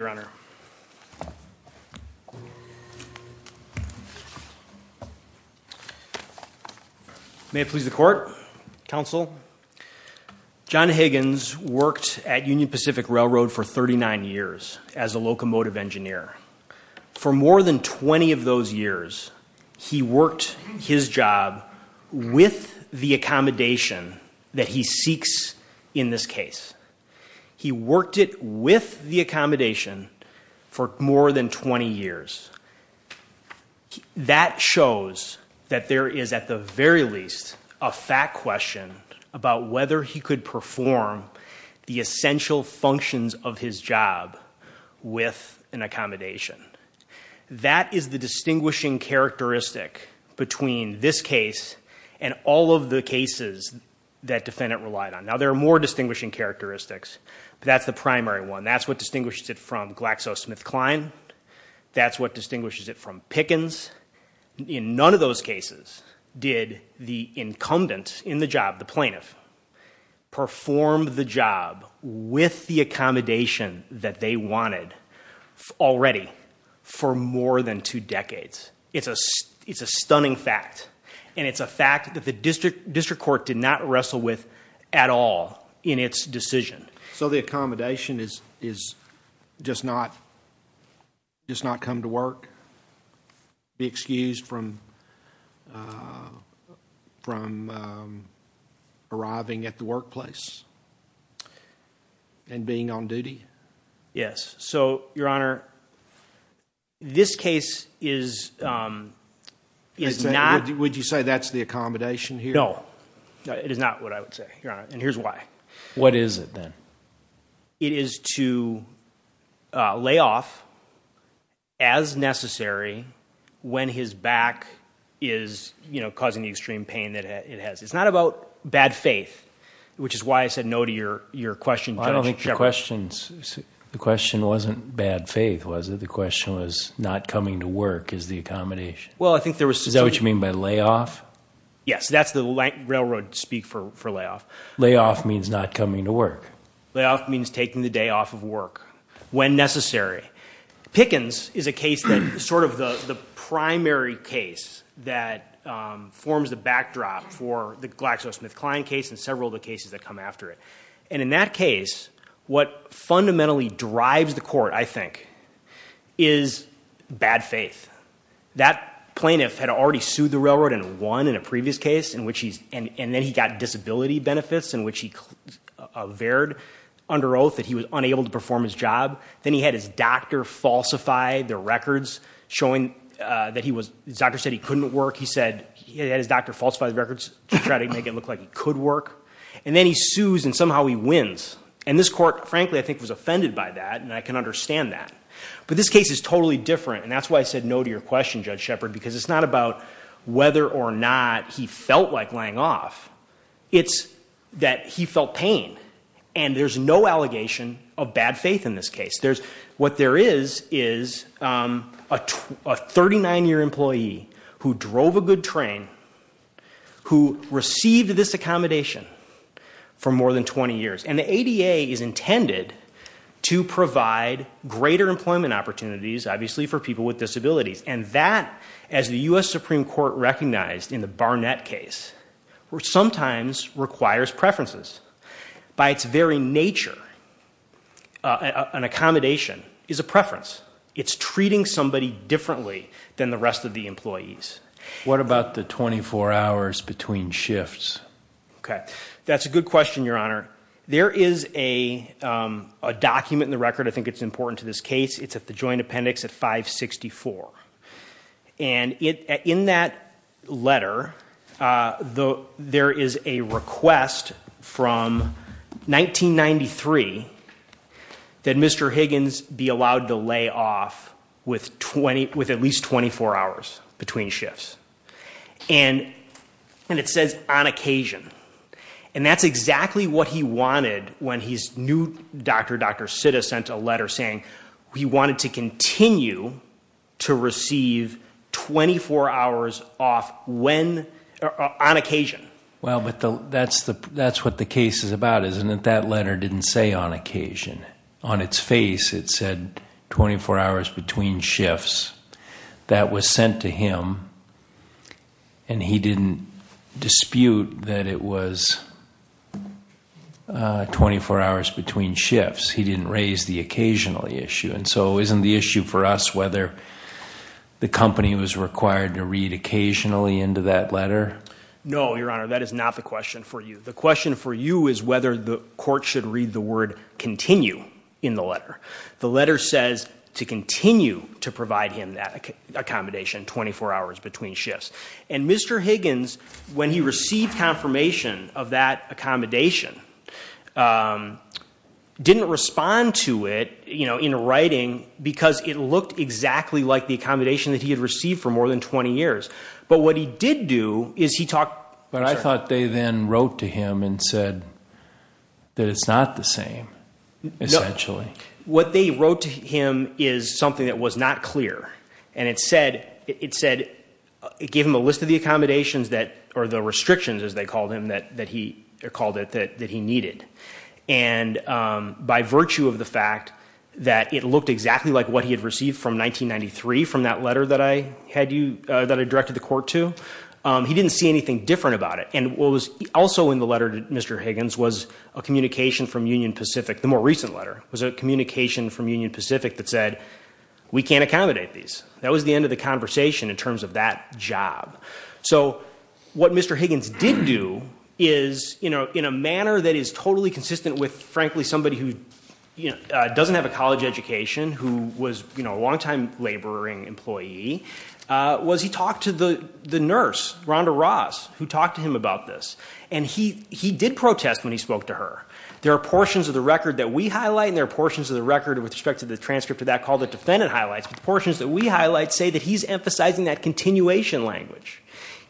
May it please the Court, Counsel, John Higgins worked at Union Pacific Railroad for 39 years as a locomotive engineer. For more than 20 of those years, he worked his job with the accommodation that he seeks in this case. He worked it with the accommodation for more than 20 years. That shows that there is, at the very least, a fact question about whether he could perform the essential functions of his job with an accommodation. That is the distinguishing characteristic between this case and all of the cases that defendant relied on. Now, there are more distinguishing characteristics, but that's the primary one. That's what distinguishes it from GlaxoSmithKline. That's what distinguishes it from Pickens. In none of those cases did the incumbent in the job, the plaintiff, perform the job with the accommodation that they wanted already for more than two decades. It's a stunning fact, and it's a fact that the district court did not wrestle with at all in its decision. So the accommodation is just not come to work, be excused from arriving at the workplace and being on duty? Yes. So, Your Honor, this case is not... Would you say that's the accommodation here? No. It is not what I would say, Your Honor, and here's why. What is it then? It is to lay off, as necessary, when his back is causing the extreme pain that it has. It's not about bad faith, which is why I said no to your question, Judge. I don't think the question wasn't bad faith, was it? The question was not coming to work is the accommodation. Well I think there was... Is that what you mean by lay off? Yes. That's the railroad speak for lay off. Lay off means not coming to work. Lay off means taking the day off of work when necessary. Pickens is a case that's sort of the primary case that forms the backdrop for the GlaxoSmithKline case and several of the cases that come after it. And in that case, what fundamentally drives the court, I think, is bad faith. That plaintiff had already sued the railroad and won in a previous case, and then he got disability benefits in which he averred under oath that he was unable to perform his job. Then he had his doctor falsify the records showing that he was... His doctor said he couldn't work. He had his doctor falsify the records to try to make it look like he could work. And then he sues and somehow he wins. And this court, frankly, I think was offended by that, and I can understand that. But this case is totally different, and that's why I said no to your question, Judge Shepard, because it's not about whether or not he felt like laying off. It's that he felt pain. And there's no allegation of bad faith in this case. What there is is a 39-year employee who drove a good train, who received this accommodation for more than 20 years. And the ADA is intended to provide greater employment opportunities, obviously, for people with disabilities. And that, as the US Supreme Court recognized in the Barnett case, sometimes requires preferences. By its very nature, an accommodation is a preference. It's treating somebody differently than the rest of the employees. What about the 24 hours between shifts? That's a good question, Your Honor. There is a document in the record, I think it's important to this case, it's at the Joint Appendix at 564. And in that letter, there is a request from 1993 that Mr. Higgins be allowed to lay off with at least 24 hours between shifts. And it says, on occasion. And that's exactly what he wanted when his new doctor, Dr. Higgins, asked him to continue to receive 24 hours off on occasion. Well, but that's what the case is about, isn't it? That letter didn't say on occasion. On its face, it said 24 hours between shifts. That was sent to him. And he didn't dispute that it was 24 hours between shifts. He didn't raise the occasional issue. And so isn't the issue for us whether the company was required to read occasionally into that letter? No, Your Honor, that is not the question for you. The question for you is whether the court should read the word continue in the letter. The letter says to continue to provide him that accommodation, 24 hours between shifts. And Mr. Higgins, when he received confirmation of that accommodation, didn't respond to it in writing because it looked exactly like the accommodation that he had received for more than 20 years. But what he did do is he talked. But I thought they then wrote to him and said that it's not the same, essentially. No. What they wrote to him is something that was not clear. And it said, it gave him a list of the accommodations that, or the restrictions as they called him, that he called it, that he needed. And by virtue of the fact that it looked exactly like what he had received from 1993 from that letter that I had you, that I directed the court to, he didn't see anything different about it. And what was also in the letter to Mr. Higgins was a communication from Union Pacific, the more recent letter, was a communication from Union Pacific that said, we can't accommodate these. That was the end of the conversation in terms of that job. So what Mr. Higgins did do is, in a manner that is totally consistent with, frankly, somebody who doesn't have a college education, who was a longtime laboring employee, was he talked to the nurse, Rhonda Ross, who talked to him about this. And he did protest when he spoke to her. There are portions of the record that we highlight, and there are portions of the record with respect to the transcript of that called the defendant highlights. Portions that we highlight say that he's emphasizing that continuation language.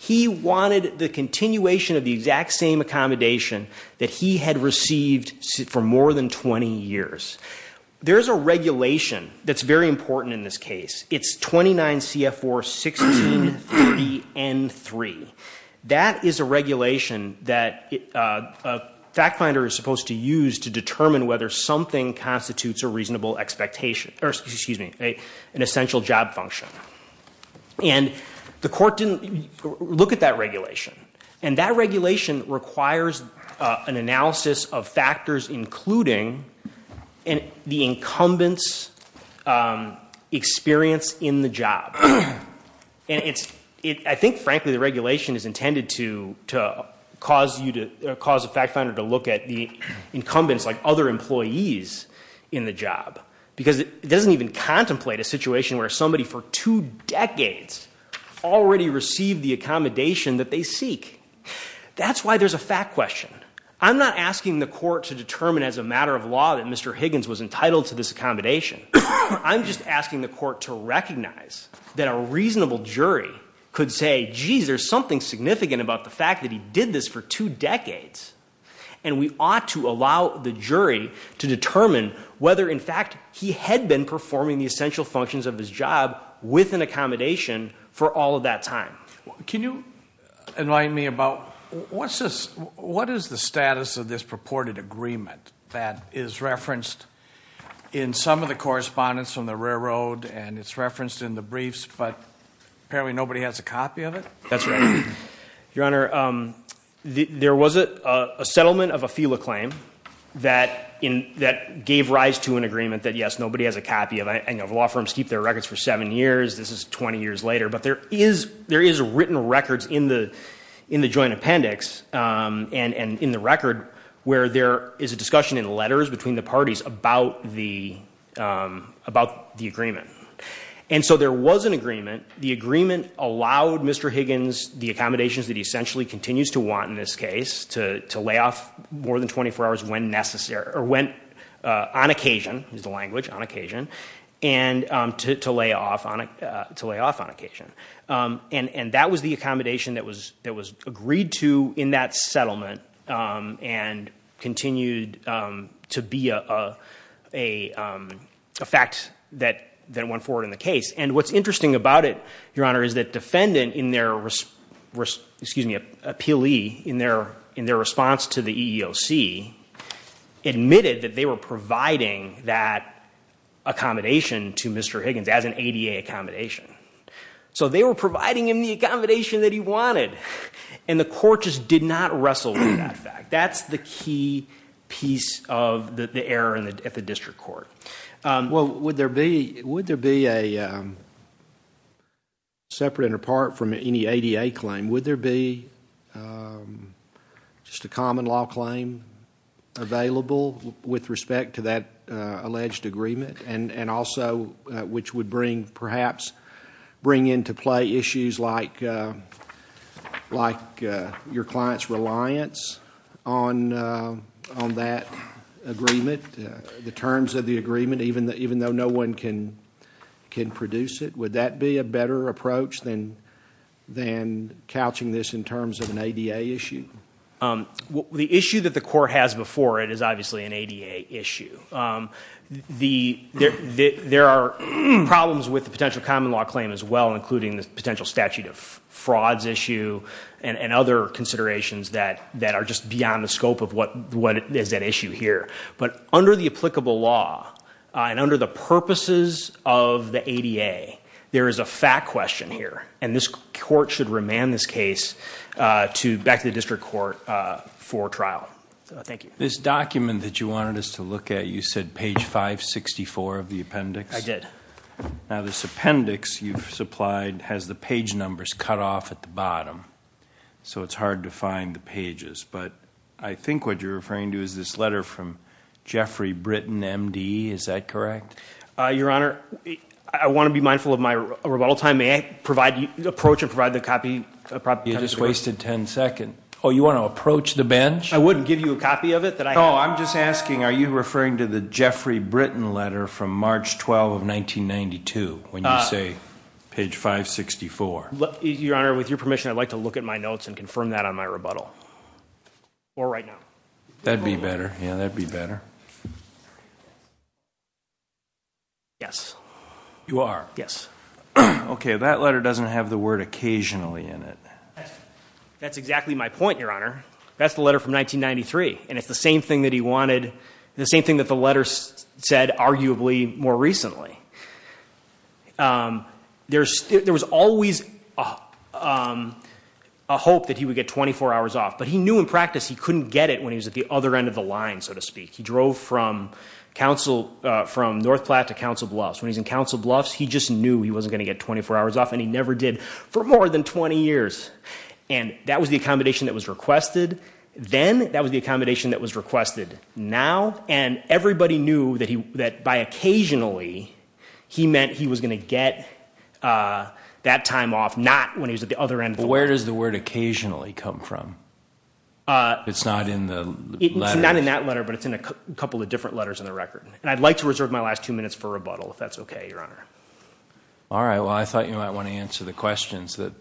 He wanted the continuation of the exact same accommodation that he had received for more than 20 years. There's a regulation that's very important in this case. It's 29 CF4 1630N3. That is a regulation that a fact finder is supposed to use to determine whether something constitutes an essential job function. And the court didn't look at that regulation. And that regulation requires an analysis of factors including the incumbent's experience in the job. I think, frankly, the regulation is intended to cause a fact finder to look at the incumbents like other employees in the job. Because it doesn't even contemplate a situation where somebody for two decades already received the accommodation that they seek. That's why there's a fact question. I'm not asking the court to determine as a matter of law that Mr. Higgins was entitled to this accommodation. I'm just asking the court to recognize that a reasonable jury could say, geez, there's something significant about the fact that he did this for two decades. And we ought to allow the jury to determine whether, in fact, he had been performing the essential functions of his job with an accommodation for all of that time. Can you enlighten me about what is the status of this purported agreement that is referenced in some of the correspondence from the railroad and it's referenced in the briefs, but apparently nobody has a copy of it? That's right. Your Honor, there was a settlement of a FILA claim that gave rise to an agreement that, yes, nobody has a copy of it, and law firms keep their records for seven years. This is 20 years later. But there is written records in the joint appendix and in the record where there is a discussion in letters between the parties about the agreement. And so there was an agreement. The agreement allowed Mr. Higgins the accommodations that he essentially continues to want in this case to lay off more than 24 hours when necessary, or when on occasion, is the language, on occasion, and to lay off on occasion. And that was the accommodation that was agreed to in that settlement and continued to be a fact that went forward in the case. And what's interesting about it, Your Honor, is that defendant, excuse me, a PLE, in their response to the EEOC, admitted that they were providing that accommodation to Mr. Higgins as an ADA accommodation. So they were providing him the accommodation that he wanted, and the court just did not wrestle with that fact. That's the key piece of the error at the district court. Well, would there be, would there be a, separate and apart from any ADA claim, would there be just a common law claim available with respect to that alleged agreement? And also, which would bring, perhaps, bring into play issues like your client's reliance on that agreement, the terms of the agreement, even though no one can produce it? Would that be a better approach than couching this in terms of an ADA issue? The issue that the court has before it is obviously an ADA issue. There are problems with the potential common law claim as well, including the potential statute of frauds issue, and other considerations that are just beyond the scope of what is at issue here. But under the applicable law, and under the purposes of the ADA, there is a fact question here, and this court should remand this case to, back to the district court for trial. Thank you. This document that you wanted us to look at, you said page 564 of the appendix? I did. Now, this appendix you've supplied has the page numbers cut off at the bottom, so it's hard to find the pages. But I think what you're referring to is this letter from Geoffrey Britton, M.D. Is that correct? Your Honor, I want to be mindful of my rebuttal time. May I approach and provide the copy? You just wasted 10 seconds. Oh, you want to approach the bench? I wouldn't give you a copy of it that I have. No, I'm just asking, are you referring to the Geoffrey Britton letter from March 12, 1992, when you say page 564? Your Honor, with your permission, I'd like to look at my notes and confirm that on my rebuttal. Or right now. That'd be better. Yeah, that'd be better. Yes. You are? Yes. Okay, that letter doesn't have the word occasionally in it. That's exactly my point, Your Honor. That's the letter from 1993, and it's the same thing that he wanted, the same thing that the letter said arguably more recently. There was always a hope that he would get 24 hours off. But he knew in practice he couldn't get it when he was at the other end of the line, so to speak. He drove from North Platte to Council Bluffs. When he was in Council Bluffs, he just knew he wasn't going to get 24 hours off, and he never did for more than 20 years. And that was the accommodation that was requested then, that was the accommodation that was requested now, and everybody knew that by occasionally, he meant he was going to get that time off, not when he was at the other end of the line. Where does the word occasionally come from? It's not in the letter. It's not in that letter, but it's in a couple of different letters in the record. And I'd like to reserve my last two minutes for rebuttal, if that's okay, Your Honor. All right, well, I thought you might want to answer the questions that...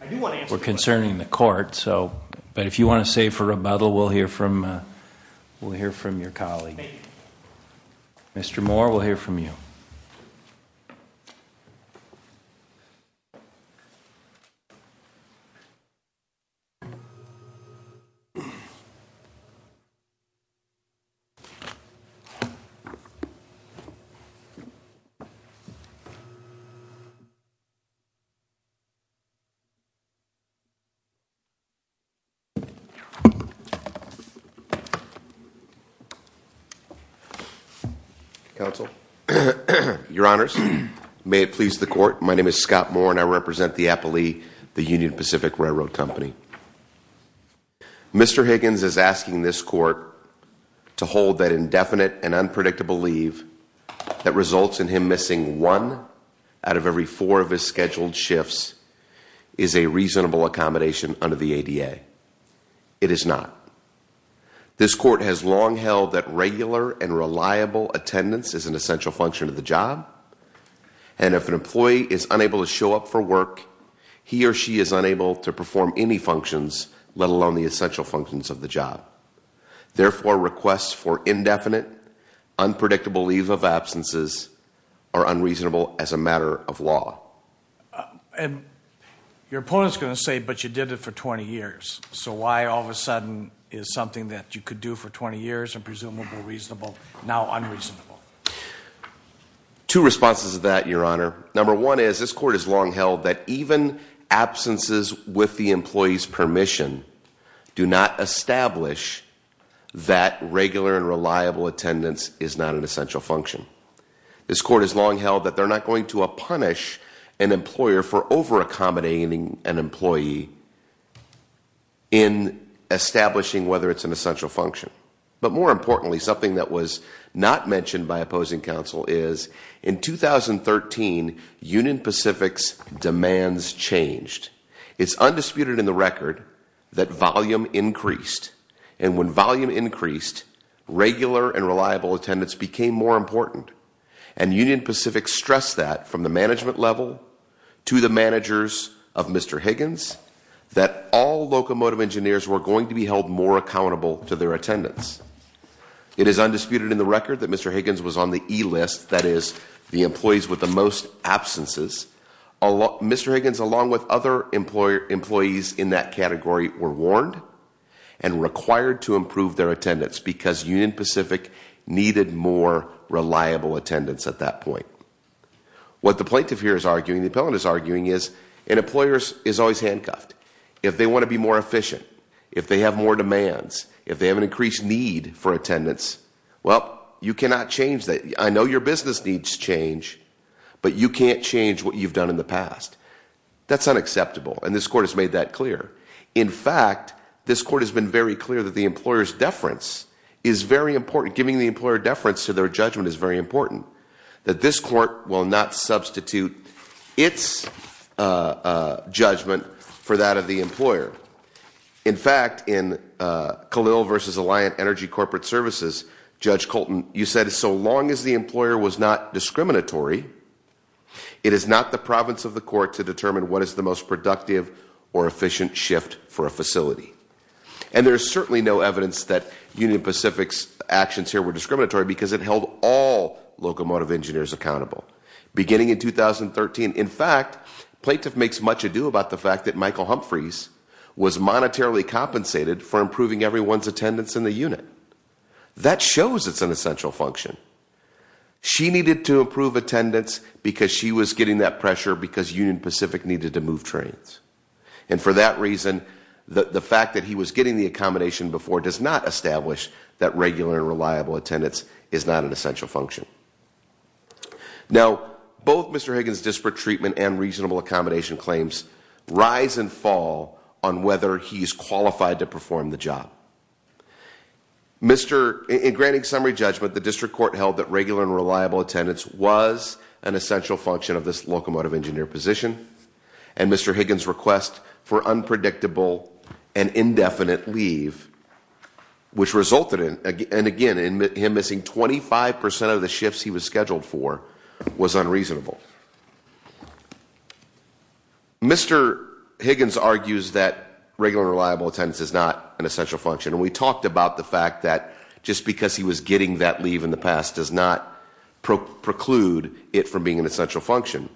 I do want to answer the questions.... were concerning the court, but if you want to save for rebuttal, we'll hear from your colleague. Thank you. Mr. Moore, we'll hear from you. Counsel, Your Honors, may it please the court, my name is Scott Moore, and I represent the Appali, the Union Pacific Railroad Company. Mr. Higgins is asking this court to hold that indefinite and unpredictable leave that results in him missing one out of every four of his scheduled shifts is a reasonable accommodation under the ADA. It is not. This court has long held that regular and reliable attendance is an essential function of the job, and if an employee is unable to show up for work, he or she is unable to perform any functions, let alone the essential functions of the job. Therefore, requests for indefinite, unpredictable leave of absences are unreasonable as a matter of law. Your opponent's going to say, but you did it for 20 years, so why all of a sudden is something that you could do for 20 years and presumably reasonable now unreasonable? Two responses to that, Your Honor. Number one is this court has long held that even absences with the employee's permission do not establish that regular and reliable attendance is not an essential function. This court has long held that they're not going to punish an employer for over-accommodating an employee in establishing whether it's an essential function. But more importantly, something that was not mentioned by opposing counsel is in 2013, Union Pacific's demands changed. It's undisputed in the record that volume increased, and when volume increased, regular and reliable attendance became more important. And Union Pacific stressed that from the management level to the managers of Mr. Higgins, that all locomotive engineers were going to be held more accountable to their attendance. It is undisputed in the record that Mr. Higgins was on the E list, that is, the employees with the most absences. Mr. Higgins, along with other employees in that category, were warned and required to improve their attendance because Union Pacific needed more reliable attendance at that point. What the plaintiff here is arguing, the appellant is arguing, is an employer is always handcuffed. If they want to be more efficient, if they have more demands, if they have an increased need for attendance, well, you cannot change that. I know your business needs change, but you can't change what you've done in the past. That's unacceptable, and this court has made that clear. In fact, this court has been very clear that the employer's deference is very important. Giving the employer deference to their judgment is very important. That this court will not substitute its judgment for that of the employer. In fact, in Khalil versus Alliant Energy Corporate Services, Judge Colton, you said so long as the employer was not discriminatory, it is not the province of the court to determine what is the most productive or efficient shift for a facility. And there's certainly no evidence that Union Pacific's actions here were discriminatory because it held all locomotive engineers accountable. Beginning in 2013, in fact, plaintiff makes much ado about the fact that Michael Humphreys was monetarily compensated for improving everyone's attendance in the unit. That shows it's an essential function. She needed to improve attendance because she was getting that pressure because Union Pacific needed to move trains. And for that reason, the fact that he was getting the accommodation before does not establish that regular and reliable attendance is not an essential function. Now, both Mr. Higgins' disparate treatment and reasonable accommodation claims rise and fall on whether he's qualified to perform the job. In granting summary judgment, the district court held that regular and reliable attendance was an essential function of this locomotive engineer position. And Mr. Higgins' request for unpredictable and indefinite leave, which resulted in, and again, him missing 25% of the shifts he was scheduled for, was unreasonable. Mr. Higgins argues that regular and reliable attendance is not an essential function. And we talked about the fact that just because he was getting that leave in the past does not preclude it from being an essential function.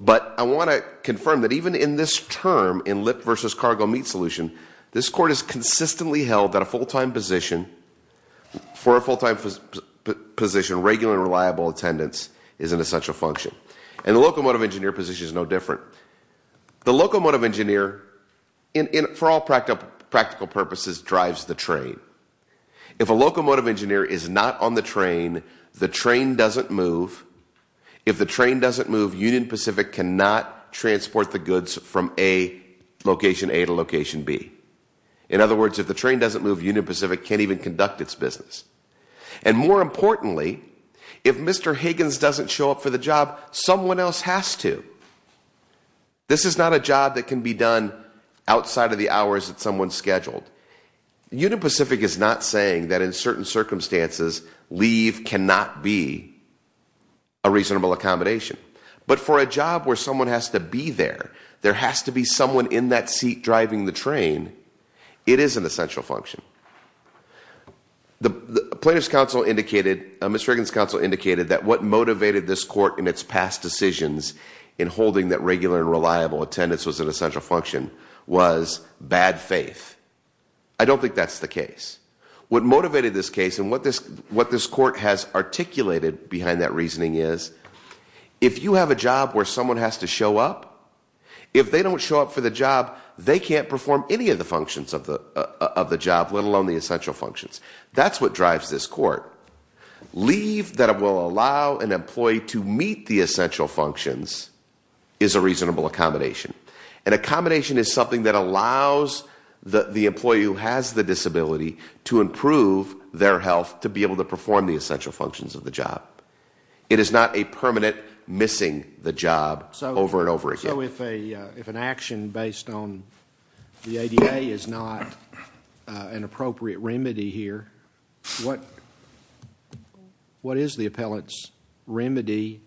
But I want to confirm that even in this term, in lip versus cargo meet solution, this court has consistently held that a full time position, for a full time position, regular and reliable attendance is an essential function. And the locomotive engineer position is no different. The locomotive engineer, for all practical purposes, drives the train. If a locomotive engineer is not on the train, the train doesn't move. If the train doesn't move, Union Pacific cannot transport the goods from location A to location B. In other words, if the train doesn't move, Union Pacific can't even conduct its business. And more importantly, if Mr. Higgins doesn't show up for the job, someone else has to. This is not a job that can be done outside of the hours that someone's scheduled. Union Pacific is not saying that in certain circumstances, leave cannot be a reasonable accommodation. But for a job where someone has to be there, there has to be someone in that seat driving the train. It is an essential function. The plaintiff's counsel indicated, Ms. Higgins' counsel indicated that what motivated this court in its past decisions in holding that regular and reliable attendance was an essential function was bad faith. I don't think that's the case. What motivated this case and what this court has articulated behind that reasoning is, if you have a job where someone has to show up, if they don't show up for the job, they can't perform any of the functions of the job, let alone the essential functions. That's what drives this court. Leave that will allow an employee to meet the essential functions is a reasonable accommodation. An accommodation is something that allows the employee who has the disability to improve their health to be able to perform the essential functions of the job. It is not a permanent missing the job over and over again. So if an action based on the ADA is not an appropriate remedy here, what is the appellate's remedy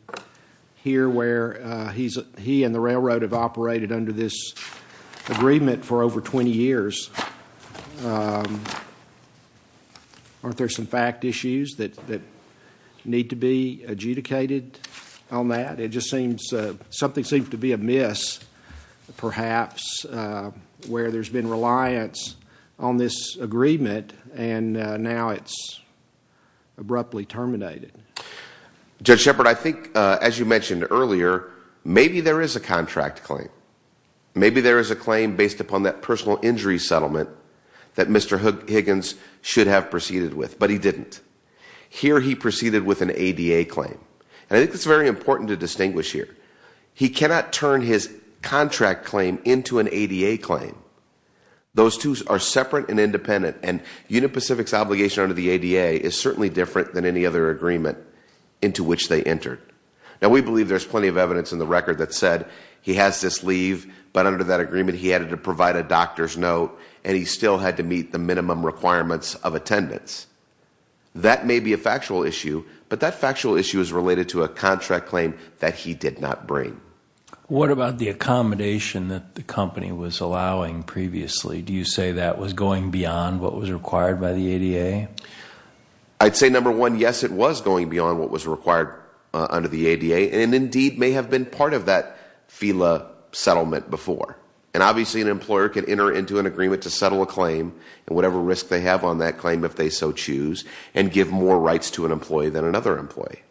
here where he and the railroad have operated under this agreement for over 20 years? Aren't there some fact issues that need to be adjudicated on that? It just seems, something seems to be amiss, perhaps, where there's been reliance on this agreement and now it's abruptly terminated. Judge Shepard, I think as you mentioned earlier, maybe there is a contract claim. Maybe there is a claim based upon that personal injury settlement that Mr. Higgins should have proceeded with, but he didn't. Here he proceeded with an ADA claim. And I think it's very important to distinguish here. He cannot turn his contract claim into an ADA claim. Those two are separate and independent. And Unit Pacific's obligation under the ADA is certainly different than any other agreement into which they entered. Now we believe there's plenty of evidence in the record that said he has this leave, but under that agreement he had to provide a doctor's note and he still had to meet the minimum requirements of attendance. That may be a factual issue, but that factual issue is related to a contract claim that he did not bring. What about the accommodation that the company was allowing previously? Do you say that was going beyond what was required by the ADA? I'd say number one, yes, it was going beyond what was required under the ADA and indeed may have been part of that FILA settlement before. And obviously an employer can enter into an agreement to settle a claim and whatever risk they have on that claim if they so choose, and give more rights to an employee than another employee.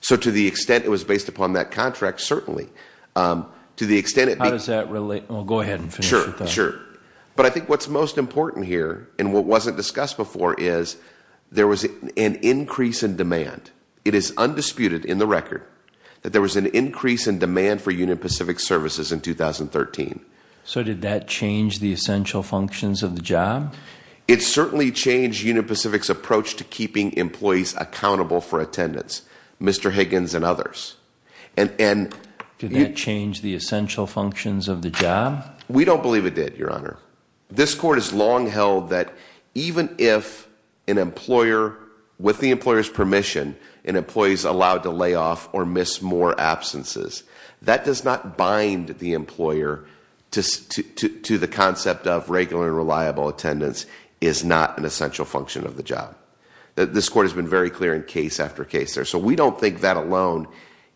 So to the extent it was based upon that contract, certainly. To the extent it- How does that relate? Well, go ahead and finish with that. Sure, sure. But I think what's most important here, and what wasn't discussed before, is there was an increase in demand. It is undisputed in the record that there was an increase in demand for Union Pacific Services in 2013. So did that change the essential functions of the job? It certainly changed Union Pacific's approach to keeping employees accountable for attendance, Mr. Higgins and others. And- Did that change the essential functions of the job? We don't believe it did, your honor. This court has long held that even if an employer, with the employer's permission, an employee is allowed to lay off or miss more absences. That does not bind the employer to the concept of regular and reliable attendance is not an essential function of the job. This court has been very clear in case after case there. So we don't think that alone,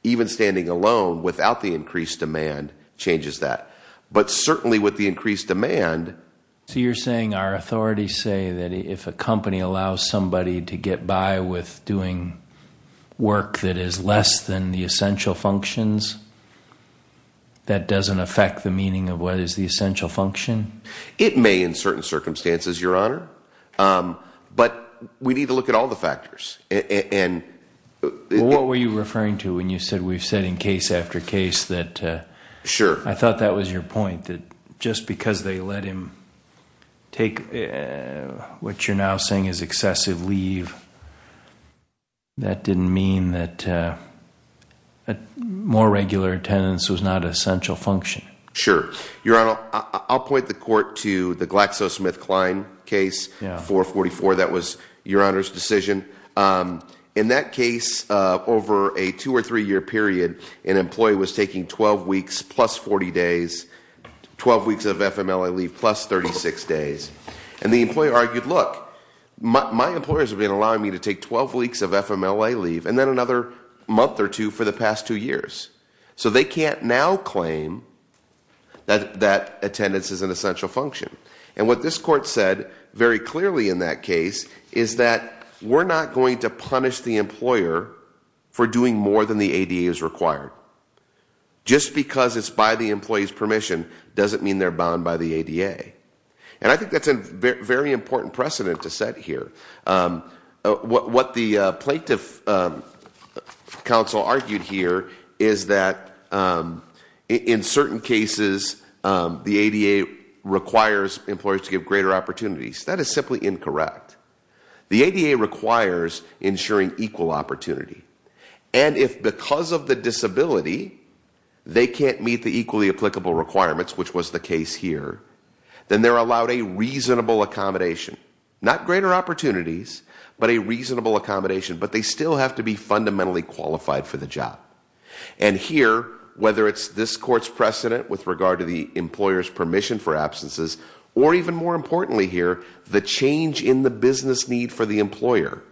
even standing alone without the increased demand, changes that. But certainly with the increased demand- So you're saying our authorities say that if a company allows somebody to get by with doing work that is less than the essential functions, that doesn't affect the meaning of what is the essential function? It may in certain circumstances, your honor, but we need to look at all the factors, and- What were you referring to when you said we've said in case after case that- Sure. I thought that was your point, that just because they let him take what you're now saying is excessive leave. That didn't mean that more regular attendance was not an essential function. Sure. Your honor, I'll point the court to the GlaxoSmithKline case, 444, that was your honor's decision. In that case, over a two or three year period, an employee was taking 12 weeks plus 40 days, 12 weeks of FMLA leave plus 36 days, and the employer argued, look, my employers have been allowing me to take 12 weeks of FMLA leave, and then another month or two for the past two years. So they can't now claim that attendance is an essential function. And what this court said very clearly in that case is that we're not going to punish the employer for doing more than the ADA is required. Just because it's by the employee's permission doesn't mean they're bound by the ADA. And I think that's a very important precedent to set here. What the plaintiff counsel argued here is that in certain cases the ADA requires employers to give greater opportunities. That is simply incorrect. The ADA requires ensuring equal opportunity. And if because of the disability, they can't meet the equally applicable requirements, which was the case here, then they're allowed a reasonable accommodation. Not greater opportunities, but a reasonable accommodation, but they still have to be fundamentally qualified for the job. And here, whether it's this court's precedent with regard to the employer's permission for absences, or even more importantly here, the change in the business need for the employer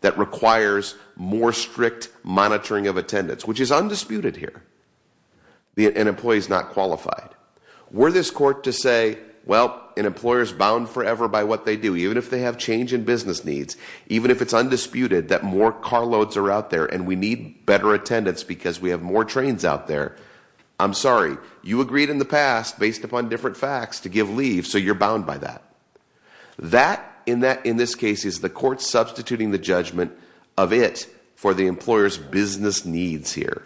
that requires more strict monitoring of attendance, which is undisputed here. An employee's not qualified. Were this court to say, well, an employer's bound forever by what they do, even if they have change in business needs, even if it's undisputed that more car loads are out there and we need better attendance because we have more trains out there. I'm sorry, you agreed in the past, based upon different facts, to give leave, so you're bound by that. That, in this case, is the court substituting the judgment of it for the employer's business needs here.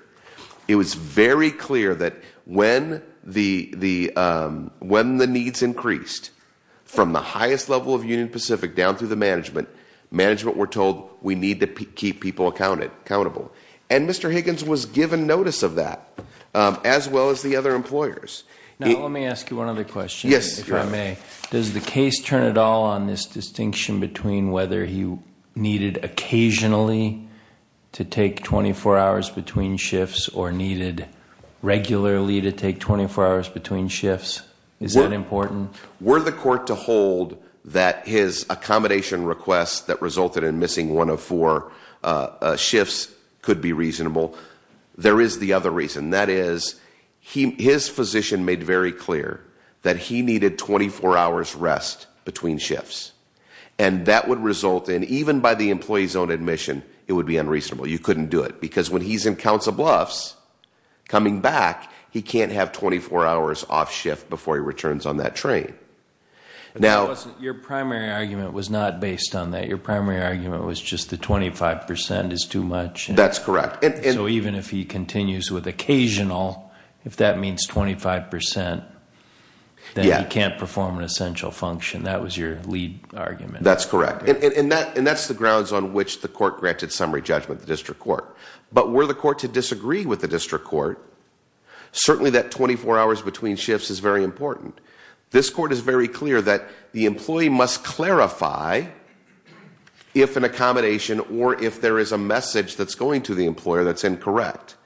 It was very clear that when the needs increased from the highest level of Union Pacific down through the management, management were told we need to keep people accountable. And Mr. Higgins was given notice of that, as well as the other employers. Now, let me ask you one other question, if I may. Does the case turn at all on this distinction between whether you needed occasionally to take 24 hours between shifts or needed regularly to take 24 hours between shifts? Is that important? Were the court to hold that his accommodation request that resulted in missing one of four shifts could be reasonable? There is the other reason. That is, his physician made very clear that he needed 24 hours rest between shifts. And that would result in, even by the employee's own admission, it would be unreasonable. You couldn't do it, because when he's in counts of bluffs, coming back, he can't have 24 hours off shift before he returns on that train. Now- Your primary argument was not based on that. Your primary argument was just the 25% is too much. That's correct. So even if he continues with occasional, if that means 25%, then he can't perform an essential function. That was your lead argument. That's correct. And that's the grounds on which the court granted summary judgment, the district court. But were the court to disagree with the district court, certainly that 24 hours between shifts is very important. This court is very clear that the employee must clarify if an accommodation or if there is a message that's going to the employer that's incorrect.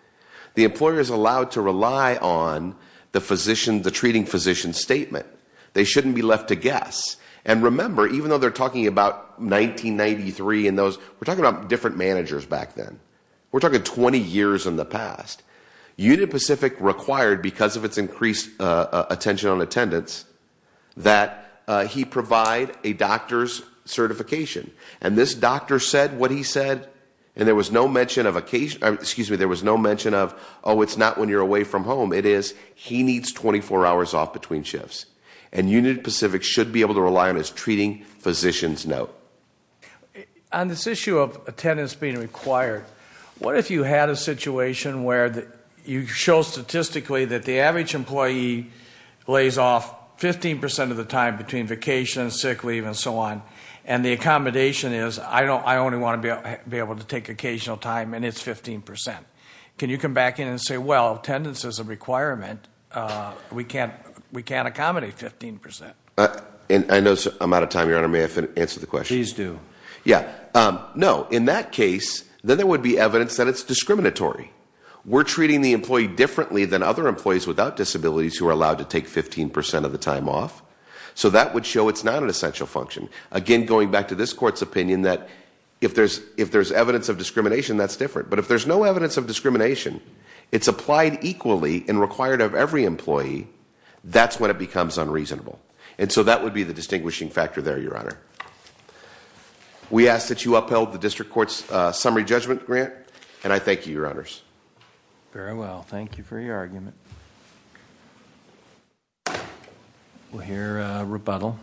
The employer is allowed to rely on the treating physician's statement. They shouldn't be left to guess. And remember, even though they're talking about 1993 and those, we're talking about different managers back then. We're talking 20 years in the past. Union Pacific required, because of its increased attention on attendance, that he provide a doctor's certification. And this doctor said what he said, and there was no mention of occasion, excuse me, there was no mention of, it's not when you're away from home. It is, he needs 24 hours off between shifts. And Union Pacific should be able to rely on his treating physician's note. On this issue of attendance being required, what if you had a situation where you show statistically that the average employee lays off 15% of the time between vacation, sick leave, and so on. And the accommodation is, I only want to be able to take occasional time, and it's 15%. Can you come back in and say, well, attendance is a requirement, we can't accommodate 15%. And I know I'm out of time, Your Honor, may I answer the question? Please do. Yeah, no, in that case, then there would be evidence that it's discriminatory. We're treating the employee differently than other employees without disabilities who are allowed to take 15% of the time off. So that would show it's not an essential function. Again, going back to this court's opinion that if there's evidence of discrimination, that's different. But if there's no evidence of discrimination, it's applied equally and required of every employee, that's when it becomes unreasonable. And so that would be the distinguishing factor there, Your Honor. We ask that you upheld the district court's summary judgment grant, and I thank you, Your Honors. Very well, thank you for your argument. We'll hear a rebuttal.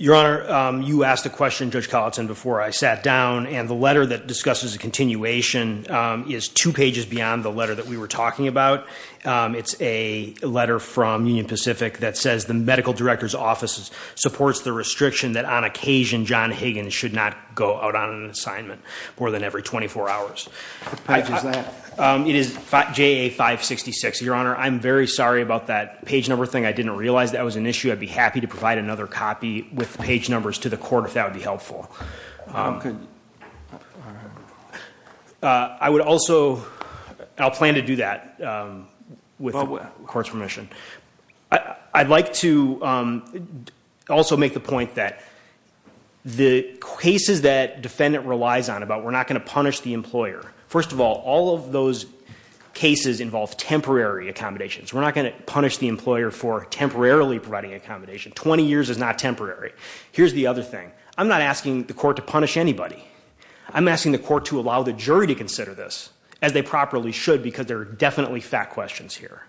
Your Honor, you asked the question, Judge Collinson, before I sat down. And the letter that discusses a continuation is two pages beyond the letter that we were talking about. It's a letter from Union Pacific that says the medical director's office supports the restriction that on occasion, John Higgins should not go out on an assignment more than every 24 hours. What page is that? It is JA 566. Your Honor, I'm very sorry about that page number thing. I didn't realize that was an issue. I'd be happy to provide another copy with page numbers to the court if that would be helpful. I would also, I'll plan to do that. With the court's permission. I'd like to also make the point that the cases that defendant relies on, about we're not going to punish the employer, first of all, all of those cases involve temporary accommodations. We're not going to punish the employer for temporarily providing accommodation. 20 years is not temporary. Here's the other thing. I'm not asking the court to punish anybody. I'm asking the court to allow the jury to consider this, as they properly should, because there are definitely fact questions here.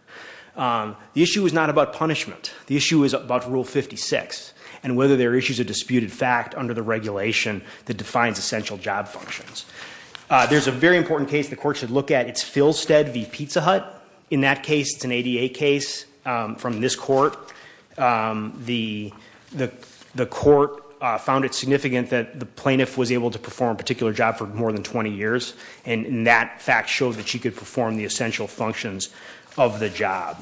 The issue is not about punishment. The issue is about rule 56, and whether there are issues of disputed fact under the regulation that defines essential job functions. There's a very important case the court should look at. It's Philstead v Pizza Hut. In that case, it's an ADA case from this court. The court found it significant that the plaintiff was able to perform a particular job for more than 20 years. And that fact showed that she could perform the essential functions of the job.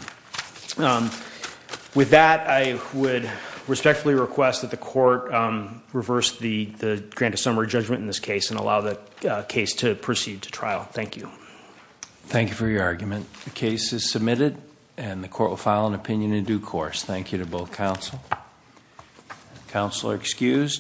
With that, I would respectfully request that the court reverse the grant of summary judgment in this case and allow the case to proceed to trial. Thank you. Thank you for your argument. The case is submitted, and the court will file an opinion in due course. Thank you to both counsel. Counsel are excused.